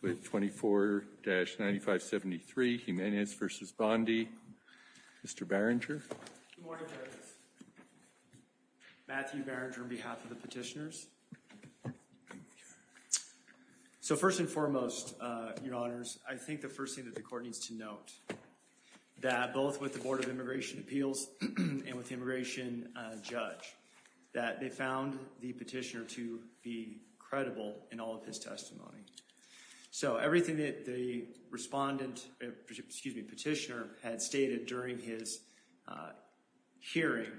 With 24-9573, Jimenez v. Bondi. Mr. Barringer. Matthew Barringer on behalf of the petitioners. So first and foremost, your honors, I think the first thing that the court needs to note that both with the Board of Immigration Appeals and with the immigration judge that they found the petitioner to be credible in all of his testimony. So everything that the respondent, excuse me, petitioner had stated during his hearing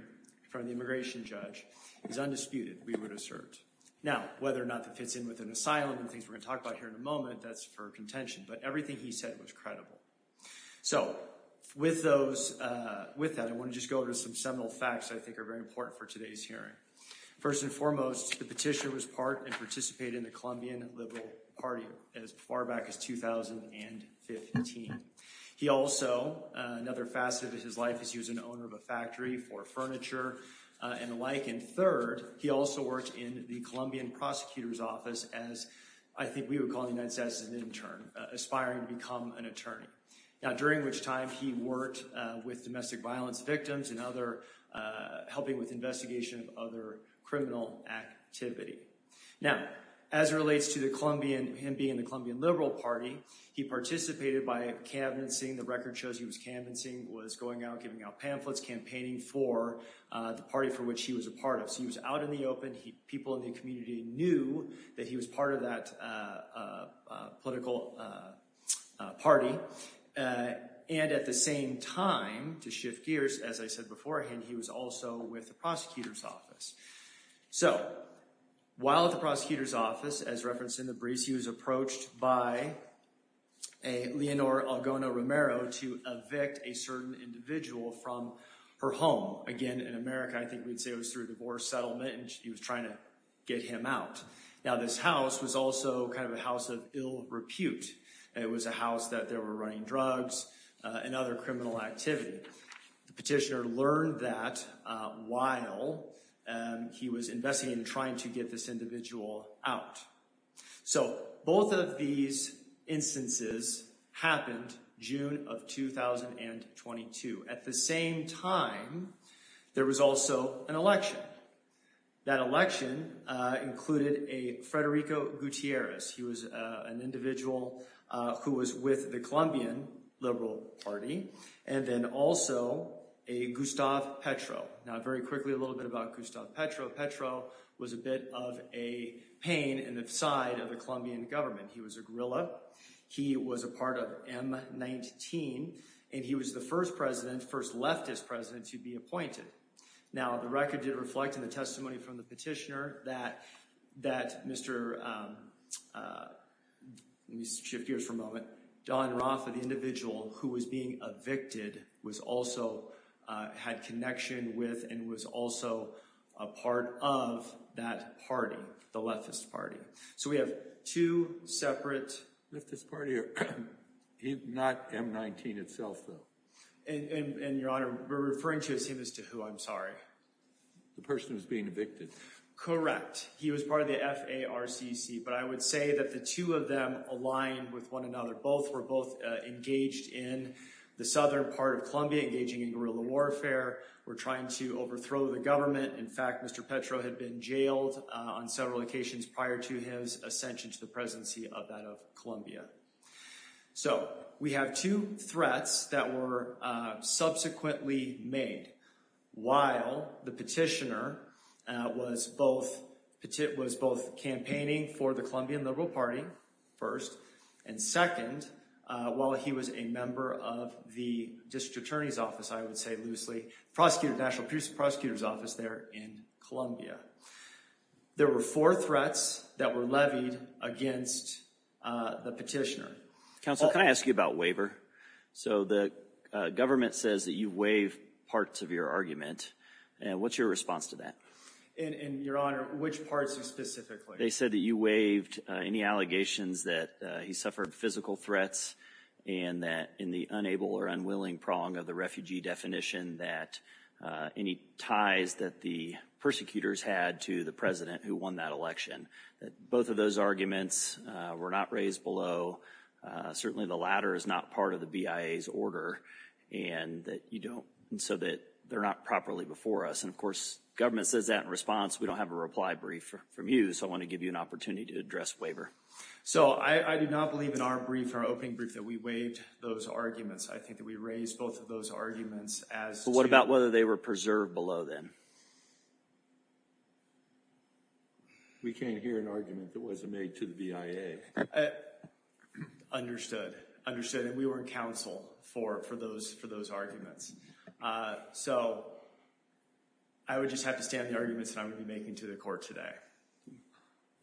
from the immigration judge is undisputed, we would assert. Now, whether or not that fits in with an asylum and things we're going to talk about here in a moment, that's for contention, but everything he said was credible. So with those, with that, I want to just go over some seminal facts I think are very important for today's hearing. First and foremost, the petitioner was part and participated in the Colombian Liberal Party as far back as 2015. He also, another facet of his life is he was an owner of a factory for furniture and the like. And third, he also worked in the Colombian Prosecutor's Office as I think we would call the United States as an intern, aspiring to become an attorney. Now, during which time he worked with domestic violence victims and other helping with investigation of other criminal activity. Now, as it relates to the Colombian, him being in the Colombian Liberal Party, he participated by canvassing. The record shows he was canvassing, was going out giving out pamphlets, campaigning for the party for which he was a part of. So he was out in the open. People in the community knew that he was part of that political party. And at the same time, to shift gears, as I said beforehand, he was also with the Prosecutor's Office. So while at the Prosecutor's Office, as referenced in the briefs, he was approached by a Leonor Algona Romero to evict a certain individual from her home. Again, in America, I think we'd say it was through a divorce settlement and she was trying to get him out. Now, this house was also kind of a house of ill repute. It was a house that they were running drugs and other criminal activity. The petitioner learned that while he was investigating and trying to get this individual out. So both of these instances happened June of 2022. At the same time, there was also an election. That election included a Federico Gutierrez. He was an individual who was with the Colombian Liberal Party. And then also a Gustav Petro. Now, very quickly, a little bit about Gustav Petro. Petro was a bit of a pain in the side of the Colombian government. He was a guerrilla. He was a part of M-19. And he was the first president, first leftist president, to be appointed. Now, the record did reflect in the testimony from the petitioner that Mr. Let me shift gears for a moment. Don Roth, the individual who was being evicted, was also had connection with and was also a part of that party, the leftist party. So we have two separate... Leftist party, not M-19 itself, though. And, Your Honor, we're referring to as him as to who, I'm sorry. The person who's being evicted. Correct. He was part of the FARCC. But I would say that the two of them aligned with one another. Both were both engaged in the southern part of Colombia, engaging in guerrilla warfare, were trying to overthrow the government. In fact, Mr. Petro had been jailed on several occasions prior to his ascension to the presidency of that of Colombia. So we have two threats that were subsequently made while the petitioner was both campaigning for the Colombian Liberal Party, first, and second, while he was a member of the district attorney's office, I would say loosely, prosecutor's office there in Colombia. There were four threats that were levied against the petitioner. Counsel, can I ask you about waiver? So the government says that you waive parts of your argument. What's your response to that? And, Your Honor, which parts specifically? They said that you waived any allegations that he suffered physical threats and that in the unable or unwilling prong of the refugee definition that any ties that the persecutors had to the president who won that election, that both of those arguments were not raised below. Certainly, the latter is not part of the BIA's order, and that you don't, and so that they're not properly before us. And of course, government says that in response. We don't have a reply brief from you, so I want to give you an opportunity to address waiver. So I do not believe in our brief, our opening brief, that we waived those arguments. I think that we raised both of those arguments as to— About whether they were preserved below then. We can't hear an argument that wasn't made to the BIA. Understood, understood, and we were in counsel for those arguments. So I would just have to stand the arguments that I'm going to be making to the court today.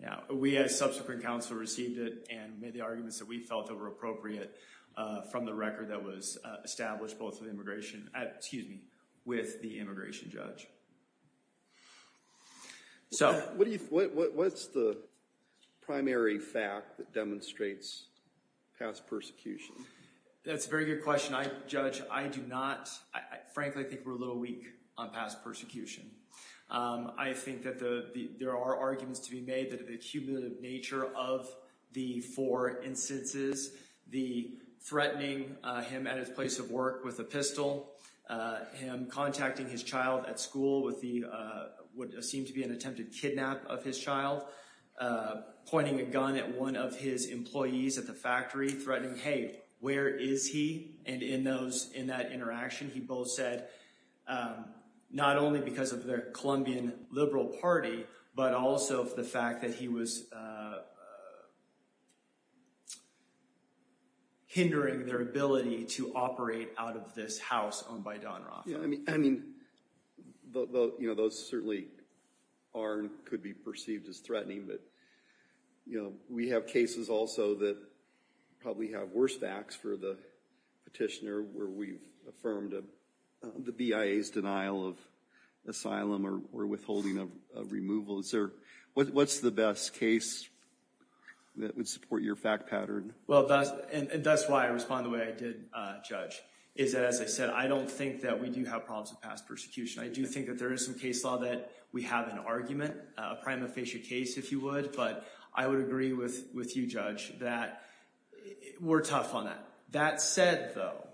Yeah, we as subsequent counsel received it and made the arguments that we felt that were appropriate from the record that was established with the immigration judge. What's the primary fact that demonstrates past persecution? That's a very good question. Judge, I do not—frankly, I think we're a little weak on past persecution. I think that there are arguments to be made that the cumulative nature of the four instances, the threatening him at his place of work with a pistol, him contacting his child at school with what seemed to be an attempted kidnap of his child, pointing a gun at one of his employees at the factory, threatening, hey, where is he? And in that interaction, he both said, not only because of the Colombian liberal party, but also for the fact that he was hindering their ability to operate out of this house owned by Don Roth. Yeah, I mean, those certainly are and could be perceived as threatening, but we have cases also that probably have worse facts for the petitioner where we've affirmed the BIA's denial of asylum or withholding of removal. Is there—what's the best case that would support your fact pattern? Well, and that's why I respond the way I did, Judge, is that, as I said, I don't think that we do have problems with past persecution. I do think that there is some case law that we have an argument, a prima facie case, if you would, but I would agree with you, Judge, that we're tough on that. That said, though,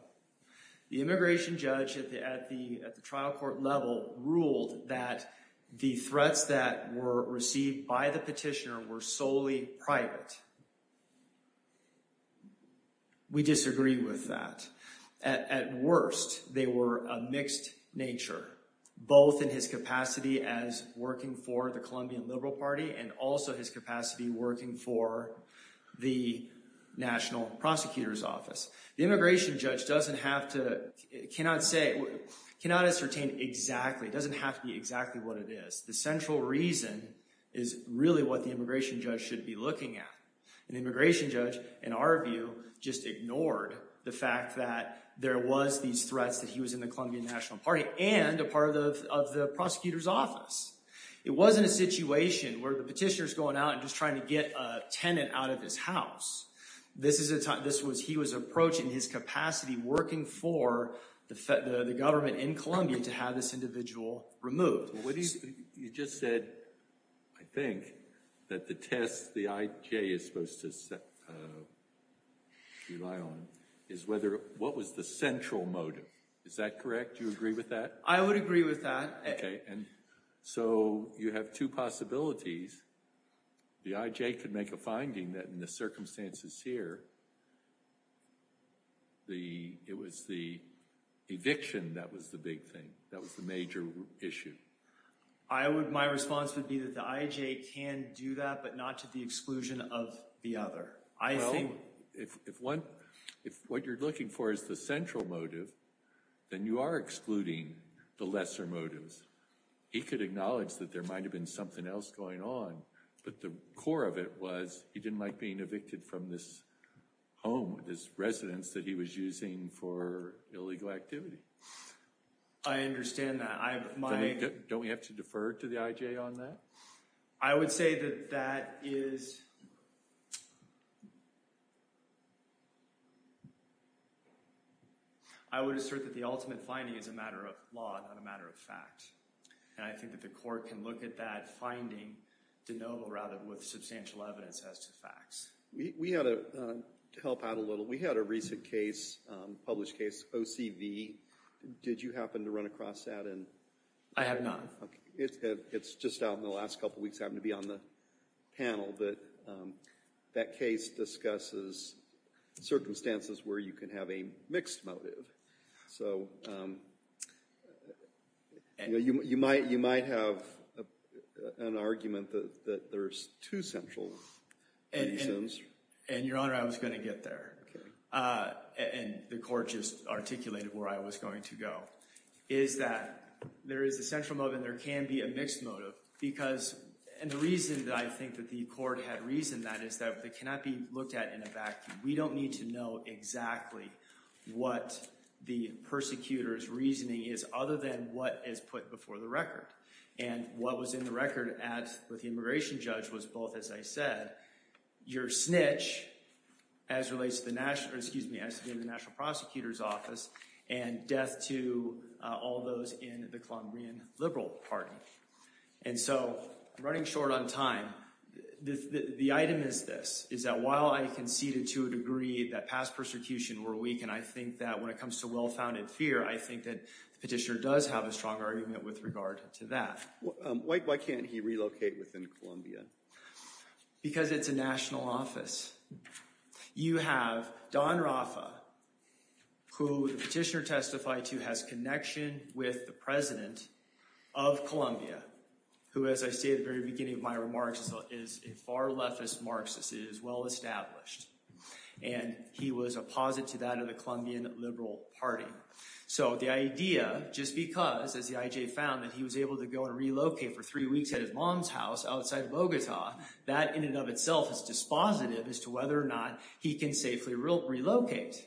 the immigration judge at the trial court level ruled that the threats that were received by the petitioner were solely private. We disagree with that. At worst, they were a mixed nature, both in his capacity as working for the Colombian Liberal Party and also his capacity working for the National Prosecutor's Office. The immigration judge doesn't have to—cannot say—cannot ascertain exactly. It doesn't have to be exactly what it is. The central reason is really what the immigration judge should be looking at. An immigration judge, in our view, just ignored the fact that there was these threats that he was in the Colombian National Party and a part of the prosecutor's office. It wasn't a situation where the petitioner's going out and just trying to get a tenant out of his house. This is a time—this was—he was approaching his capacity working for the fed—the government in Colombia to have this individual removed. Well, what do you—you just said, I think, that the test the IJ is supposed to rely on is whether—what was the central motive. Is that correct? Do you agree with that? I would agree with that. Okay. And so you have two possibilities. The IJ could make a finding that in the circumstances here, the—it was the eviction that was the big thing. That was the major issue. I would—my response would be that the IJ can do that, but not to the exclusion of the other. I think— Well, if one—if what you're looking for is the central motive, then you are excluding the lesser motives. He could acknowledge that there might have been something else going on, but the core of it was he didn't like being evicted from this home, this residence that he was using for illegal activity. I understand that. I— Don't we have to defer to the IJ on that? I would say that that is—I would assert that the ultimate finding is a matter of law, not a matter of fact. And I think that the court can look at that finding de novo, rather, with substantial evidence as to facts. We had a—to help out a little, we had a recent case, published case, OCV. Did you happen to run across that? I have not. It's just out in the last couple of weeks. I happen to be on the panel. But that case discusses circumstances where you can have a mixed motive. So you might have an argument that there's two central reasons. And, Your Honor, I was going to get there. Okay. And the court just articulated where I was going to go, is that there is a central motive and there can be a mixed motive. Because—and the reason that I think that the court had reasoned that is that they cannot be looked at in a vacuum. We don't need to know exactly what the persecutor's reasoning is, other than what is put before the record. And what was in the record at—with the immigration judge was both, as I said, your snitch, as relates to the national—excuse me, and death to all those in the Colombian Liberal Party. And so, running short on time, the item is this, is that while I conceded to a degree that past persecution were weak, and I think that when it comes to well-founded fear, I think that the petitioner does have a strong argument with regard to that. Why can't he relocate within Colombia? Because it's a national office. You have Don Rafa, who the petitioner testified to has connection with the president of Colombia, who, as I say at the very beginning of my remarks, is a far-leftist Marxist. It is well-established. And he was a posit to that of the Colombian Liberal Party. So the idea, just because, as the IJ found, that he was able to go and relocate for three weeks at his mom's house outside Bogota, that in and of itself is dispositive as to whether or not he can safely relocate.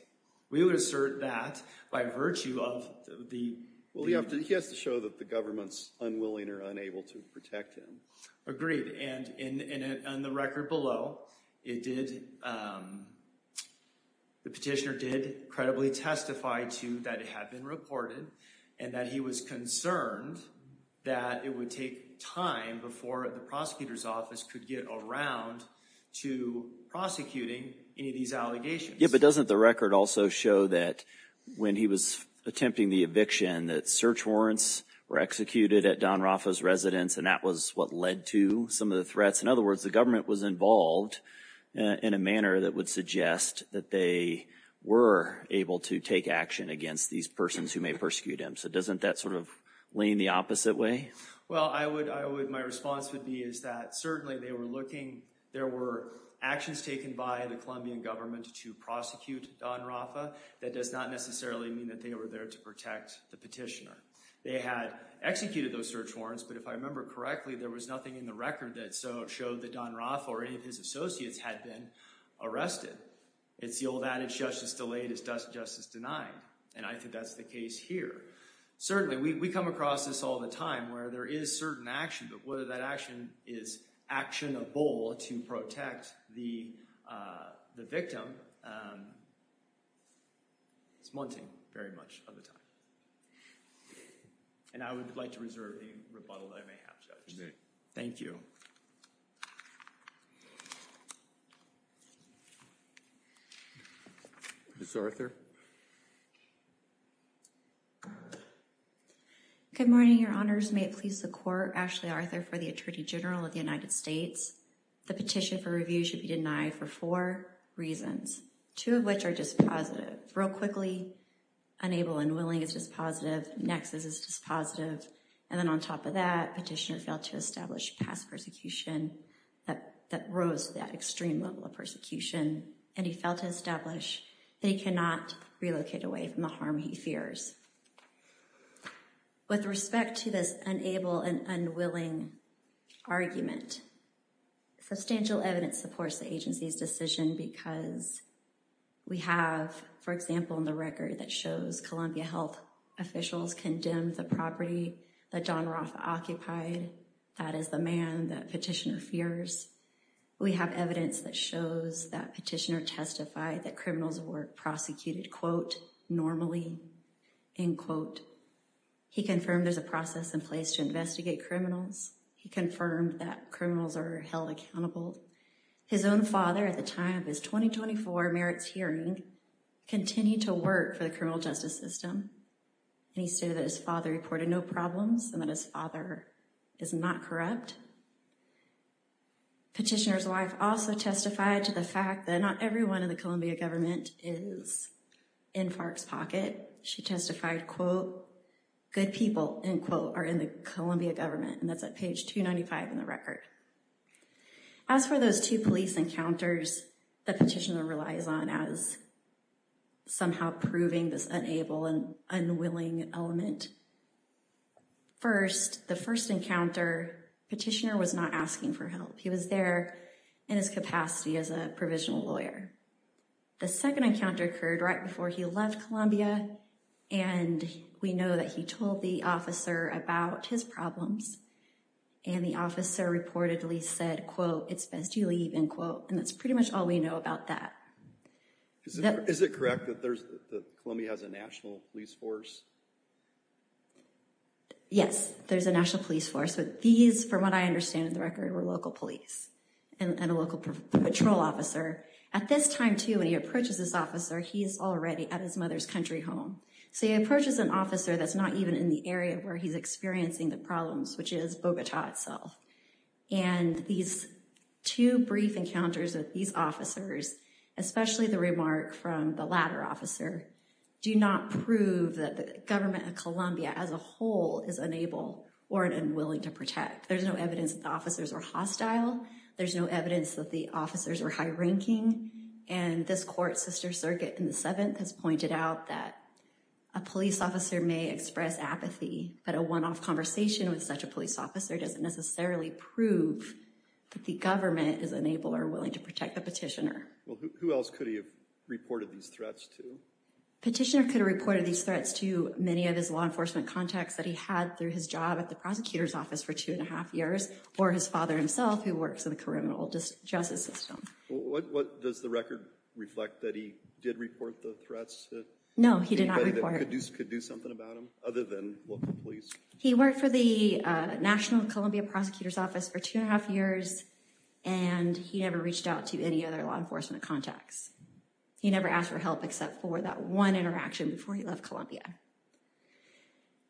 We would assert that by virtue of the— Well, he has to show that the government's unwilling or unable to protect him. Agreed. And in the record below, it did— the petitioner did credibly testify to that it had been reported, and that he was concerned that it would take time before the prosecutor's office could get around to prosecuting any of these allegations. Yeah, but doesn't the record also show that when he was attempting the eviction, that search warrants were executed at Don Rafa's residence, and that was what led to some of the threats? In other words, the government was involved in a manner that would suggest that they were able to take action against these persons who may persecute him. So doesn't that sort of lean the opposite way? Well, my response would be is that certainly they were looking— there were actions taken by the Colombian government to prosecute Don Rafa. That does not necessarily mean that they were there to protect the petitioner. They had executed those search warrants, but if I remember correctly, there was nothing in the record that showed that Don Rafa or any of his associates had been arrested. It's the old adage, justice delayed is justice denied. And I think that's the case here. Certainly, we come across this all the time where there is certain action, but whether that action is actionable to protect the victim, it's munting very much of the time. And I would like to reserve the rebuttal that I may have, Judge. You may. Thank you. Ms. Arthur? Good morning, Your Honors. May it please the Court, Ashley Arthur for the Attorney General of the United States. The petition for review should be denied for four reasons, two of which are just positive. Real quickly, unable and unwilling is just positive. Nexus is just positive. And then on top of that, petitioner failed to establish past persecution that rose to that extreme level of persecution. And he failed to establish that he cannot relocate away from the harm he fears. With respect to this unable and unwilling argument, substantial evidence supports the agency's decision because we have, for example, in the record that shows Columbia Health officials condemned the property that Don Roth occupied. That is the man that petitioner fears. We have evidence that shows that petitioner testified that criminals were prosecuted, quote, normally. End quote. He confirmed there's a process in place to investigate criminals. He confirmed that criminals are held accountable. His own father, at the time of his 2024 merits hearing, continued to work for the criminal justice system. And he stated that his father reported no problems and that his father is not corrupt. Petitioner's wife also testified to the fact that not everyone in the Columbia government is in FARC's pocket. She testified, quote, good people, end quote, are in the Columbia government. And that's at page 295 in the record. As for those two police encounters that petitioner relies on as somehow proving this unable and unwilling element. First, the first encounter, petitioner was not asking for help. He was there in his capacity as a provisional lawyer. The second encounter occurred right before he left Columbia. And we know that he told the officer about his problems. And the officer reportedly said, quote, it's best you leave, end quote. And that's pretty much all we know about that. Is it correct that Columbia has a national police force? Yes, there's a national police force. But these, from what I understand of the record, were local police and a local patrol officer. At this time, too, when he approaches this officer, he's already at his mother's country home. So he approaches an officer that's not even in the area where he's experiencing the problems, which is Bogota itself. And these two brief encounters with these officers, especially the remark from the latter officer, do not prove that the government of Columbia as a whole is unable or unwilling to protect. There's no evidence that the officers were hostile. There's no evidence that the officers were high ranking. And this court, Sister Circuit in the 7th, has pointed out that a police officer may express apathy. But a one-off conversation with such a police officer doesn't necessarily prove that the government is unable or willing to protect the petitioner. Well, who else could he have reported these threats to? Petitioner could have reported these threats to many of his law enforcement contacts that he had through his job at the prosecutor's office for two and a half years, or his father himself, who works in the criminal justice system. Does the record reflect that he did report the threats? No, he did not report. Anybody that could do something about him, other than local police? He worked for the National Columbia Prosecutor's Office for two and a half years, and he never reached out to any other law enforcement contacts. He never asked for help except for that one interaction before he left Columbia.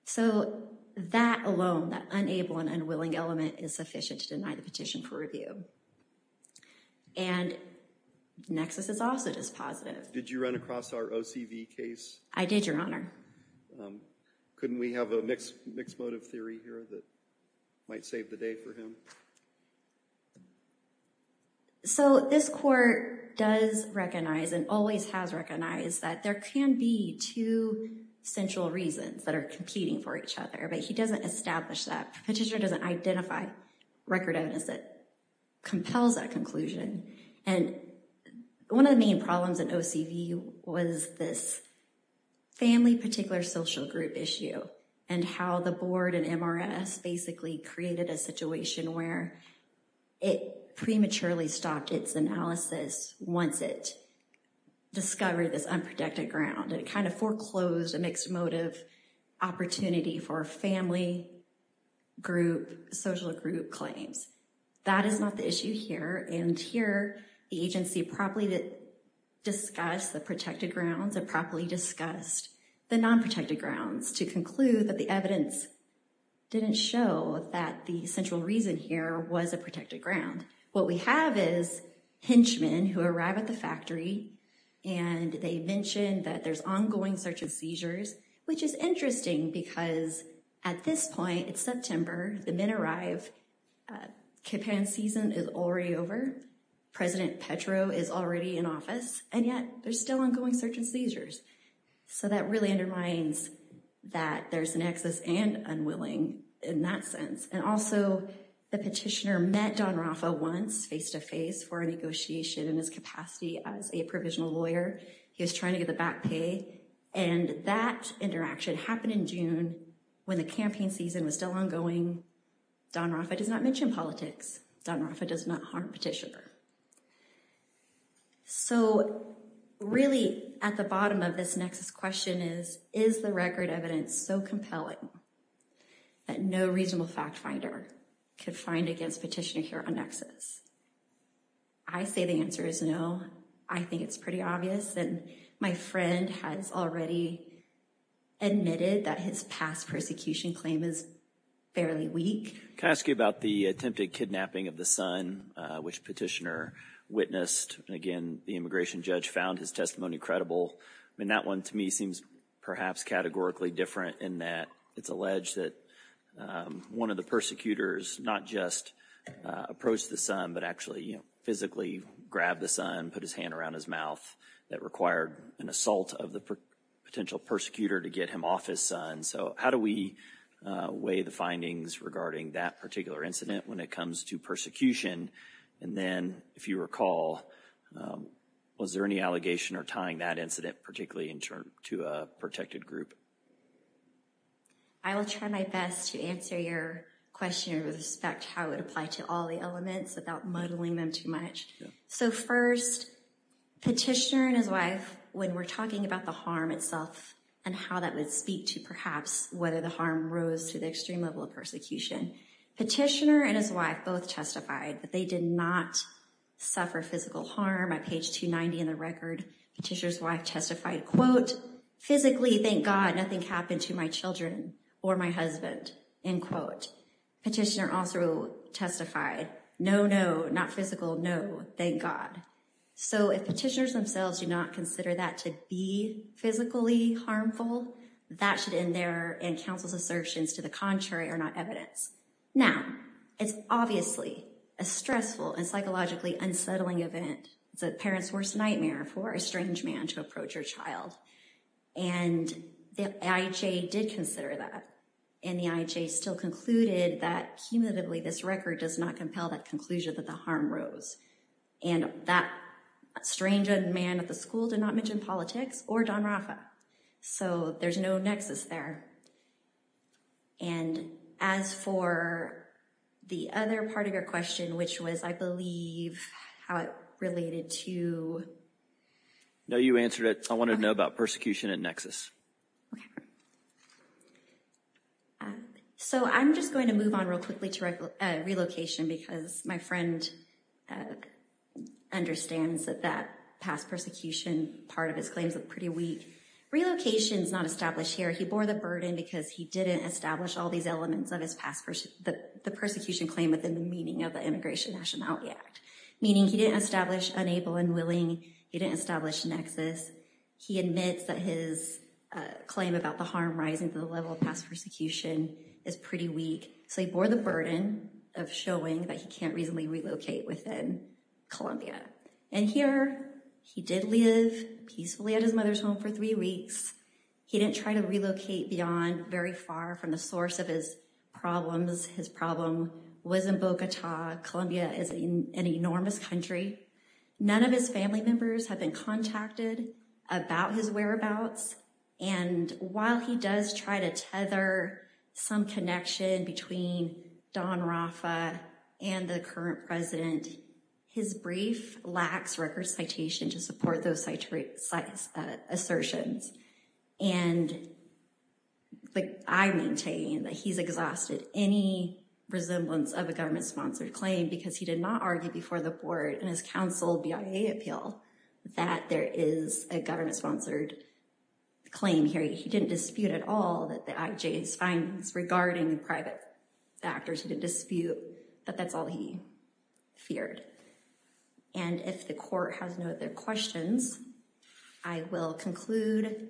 So that alone, that unable and unwilling element, is sufficient to deny the petition for review. And Nexus is also just positive. Did you run across our OCV case? I did, Your Honor. Couldn't we have a mixed motive theory here that might save the day for him? So this court does recognize, and always has recognized, that there can be two central reasons that are competing for each other, but he doesn't establish that. Petitioner doesn't identify record evidence that compels that conclusion. And one of the main problems in OCV was this family particular social group issue, and how the board and MRS basically created a situation where it prematurely stopped its analysis once it discovered this unprotected ground. It kind of foreclosed a mixed motive opportunity for family group, social group claims. That is not the issue here. And here, the agency properly discussed the protected grounds, and properly discussed the non-protected grounds to conclude that the evidence didn't show that the central reason here was a protected ground. What we have is henchmen who arrive at the factory, and they mention that there's ongoing search and seizures, which is interesting because at this point, it's September, the men arrive, Kipan season is already over, President Petro is already in office, and yet there's still ongoing search and seizures. So that really undermines that there's an excess and unwilling in that sense. And also, the petitioner met Don Raffa once face-to-face for a negotiation in his capacity as a provisional lawyer. He was trying to get the back pay. And that interaction happened in June when the campaign season was still ongoing. Don Raffa does not mention politics. Don Raffa does not harm petitioner. So, really, at the bottom of this Nexus question is, is the record evidence so compelling that no reasonable fact finder could find against petitioner here on Nexus? I say the answer is no. I think it's pretty obvious. And my friend has already admitted that his past persecution claim is fairly weak. Can I ask you about the attempted kidnapping of the son, which petitioner witnessed? Again, the immigration judge found his testimony credible. I mean, that one to me seems perhaps categorically different in that it's alleged that one of the persecutors not just approached the son, but actually physically grabbed the son, put his hand around his mouth. That required an assault of the potential persecutor to get him off his son. So how do we weigh the findings regarding that particular incident when it comes to persecution? And then, if you recall, was there any allegation or tying that incident, particularly in terms to a protected group? I will try my best to answer your question with respect to how it applied to all the elements without muddling them too much. So, first, petitioner and his wife, when we're talking about the harm itself and how that would speak to, perhaps, whether the harm rose to the extreme level of persecution, petitioner and his wife both testified that they did not suffer physical harm. On page 290 in the record, petitioner's wife testified, quote, physically, thank God, nothing happened to my children or my husband, end quote. Petitioner also testified, no, no, not physical, no, thank God. So if petitioners themselves do not consider that to be physically harmful, that should end there and counsel's assertions to the contrary are not evidence. Now, it's obviously a stressful and psychologically unsettling event. It's a parent's worst nightmare for a strange man to approach your child. And the IHA did consider that. And the IHA still concluded that, cumulatively, this record does not compel that conclusion that the harm rose. And that strange young man at the school did not mention politics or Don Rafa. So there's no nexus there. And as for the other part of your question, which was, I believe, how it related to. No, you answered it. I want to know about persecution and nexus. So I'm just going to move on real quickly to relocation because my friend understands that that past persecution part of his claims are pretty weak. Relocation is not established here. He bore the burden because he didn't establish all these elements of his past. The persecution claim within the meaning of the Immigration Nationality Act, meaning he didn't establish unable and willing. He didn't establish nexus. He admits that his claim about the harm rising to the level of past persecution is pretty weak. So he bore the burden of showing that he can't reasonably relocate within Columbia. And here he did live peacefully at his mother's home for three weeks. He didn't try to relocate beyond very far from the source of his problems. His problem was in Bogota. Columbia is an enormous country. None of his family members have been contacted about his whereabouts. And while he does try to tether some connection between Don Rafa and the current president, his brief lacks record citation to support those assertions. And I maintain that he's exhausted any resemblance of a government-sponsored claim because he did not argue before the board in his council BIA appeal that there is a government-sponsored claim here. He didn't dispute at all that the IJ's findings regarding private factors. He didn't dispute that that's all he feared. And if the court has no other questions, I will conclude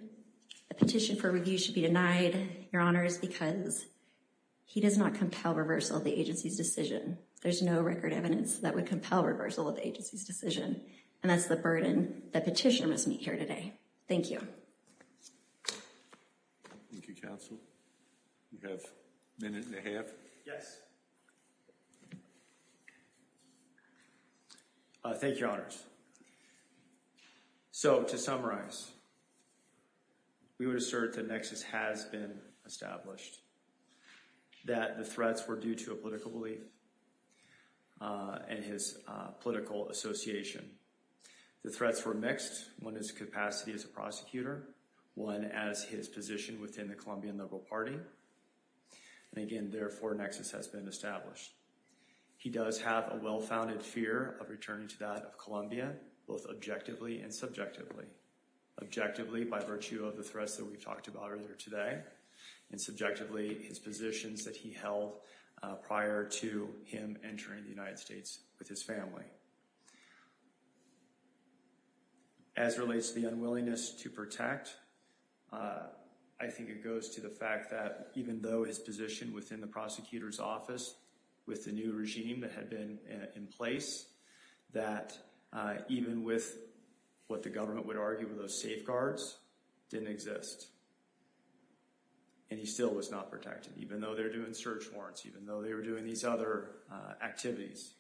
the petition for review should be denied, your honors, because he does not compel reversal of the agency's decision. There's no record evidence that would compel reversal of the agency's decision. And that's the burden that petitioner must meet here today. Thank you. Thank you, counsel. We have a minute and a half. Yes. Thank you, your honors. So to summarize, we would assert the nexus has been established. That the threats were due to a political belief and his political association. The threats were mixed. One is capacity as a prosecutor. One as his position within the Colombian Liberal Party. And again, therefore, nexus has been established. He does have a well-founded fear of returning to that of Colombia, both objectively and subjectively. Objectively, by virtue of the threats that we've talked about earlier today. And subjectively, his positions that he held prior to him entering the United States with his family. As relates to the unwillingness to protect, I think it goes to the fact that even though his position within the prosecutor's office with the new regime that had been in place, that even with what the government would argue were those safeguards, didn't exist. And he still was not protected, even though they're doing search warrants, even though they were doing these other activities.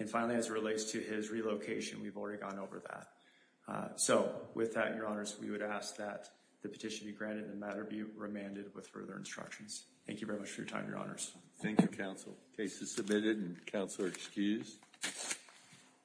And finally, as it relates to his relocation, we've already gone over that. So with that, Your Honours, we would ask that the petition be granted and the matter be remanded with further instructions. Thank you very much for your time, Your Honours. Thank you, Council. Case is submitted and Council are excused.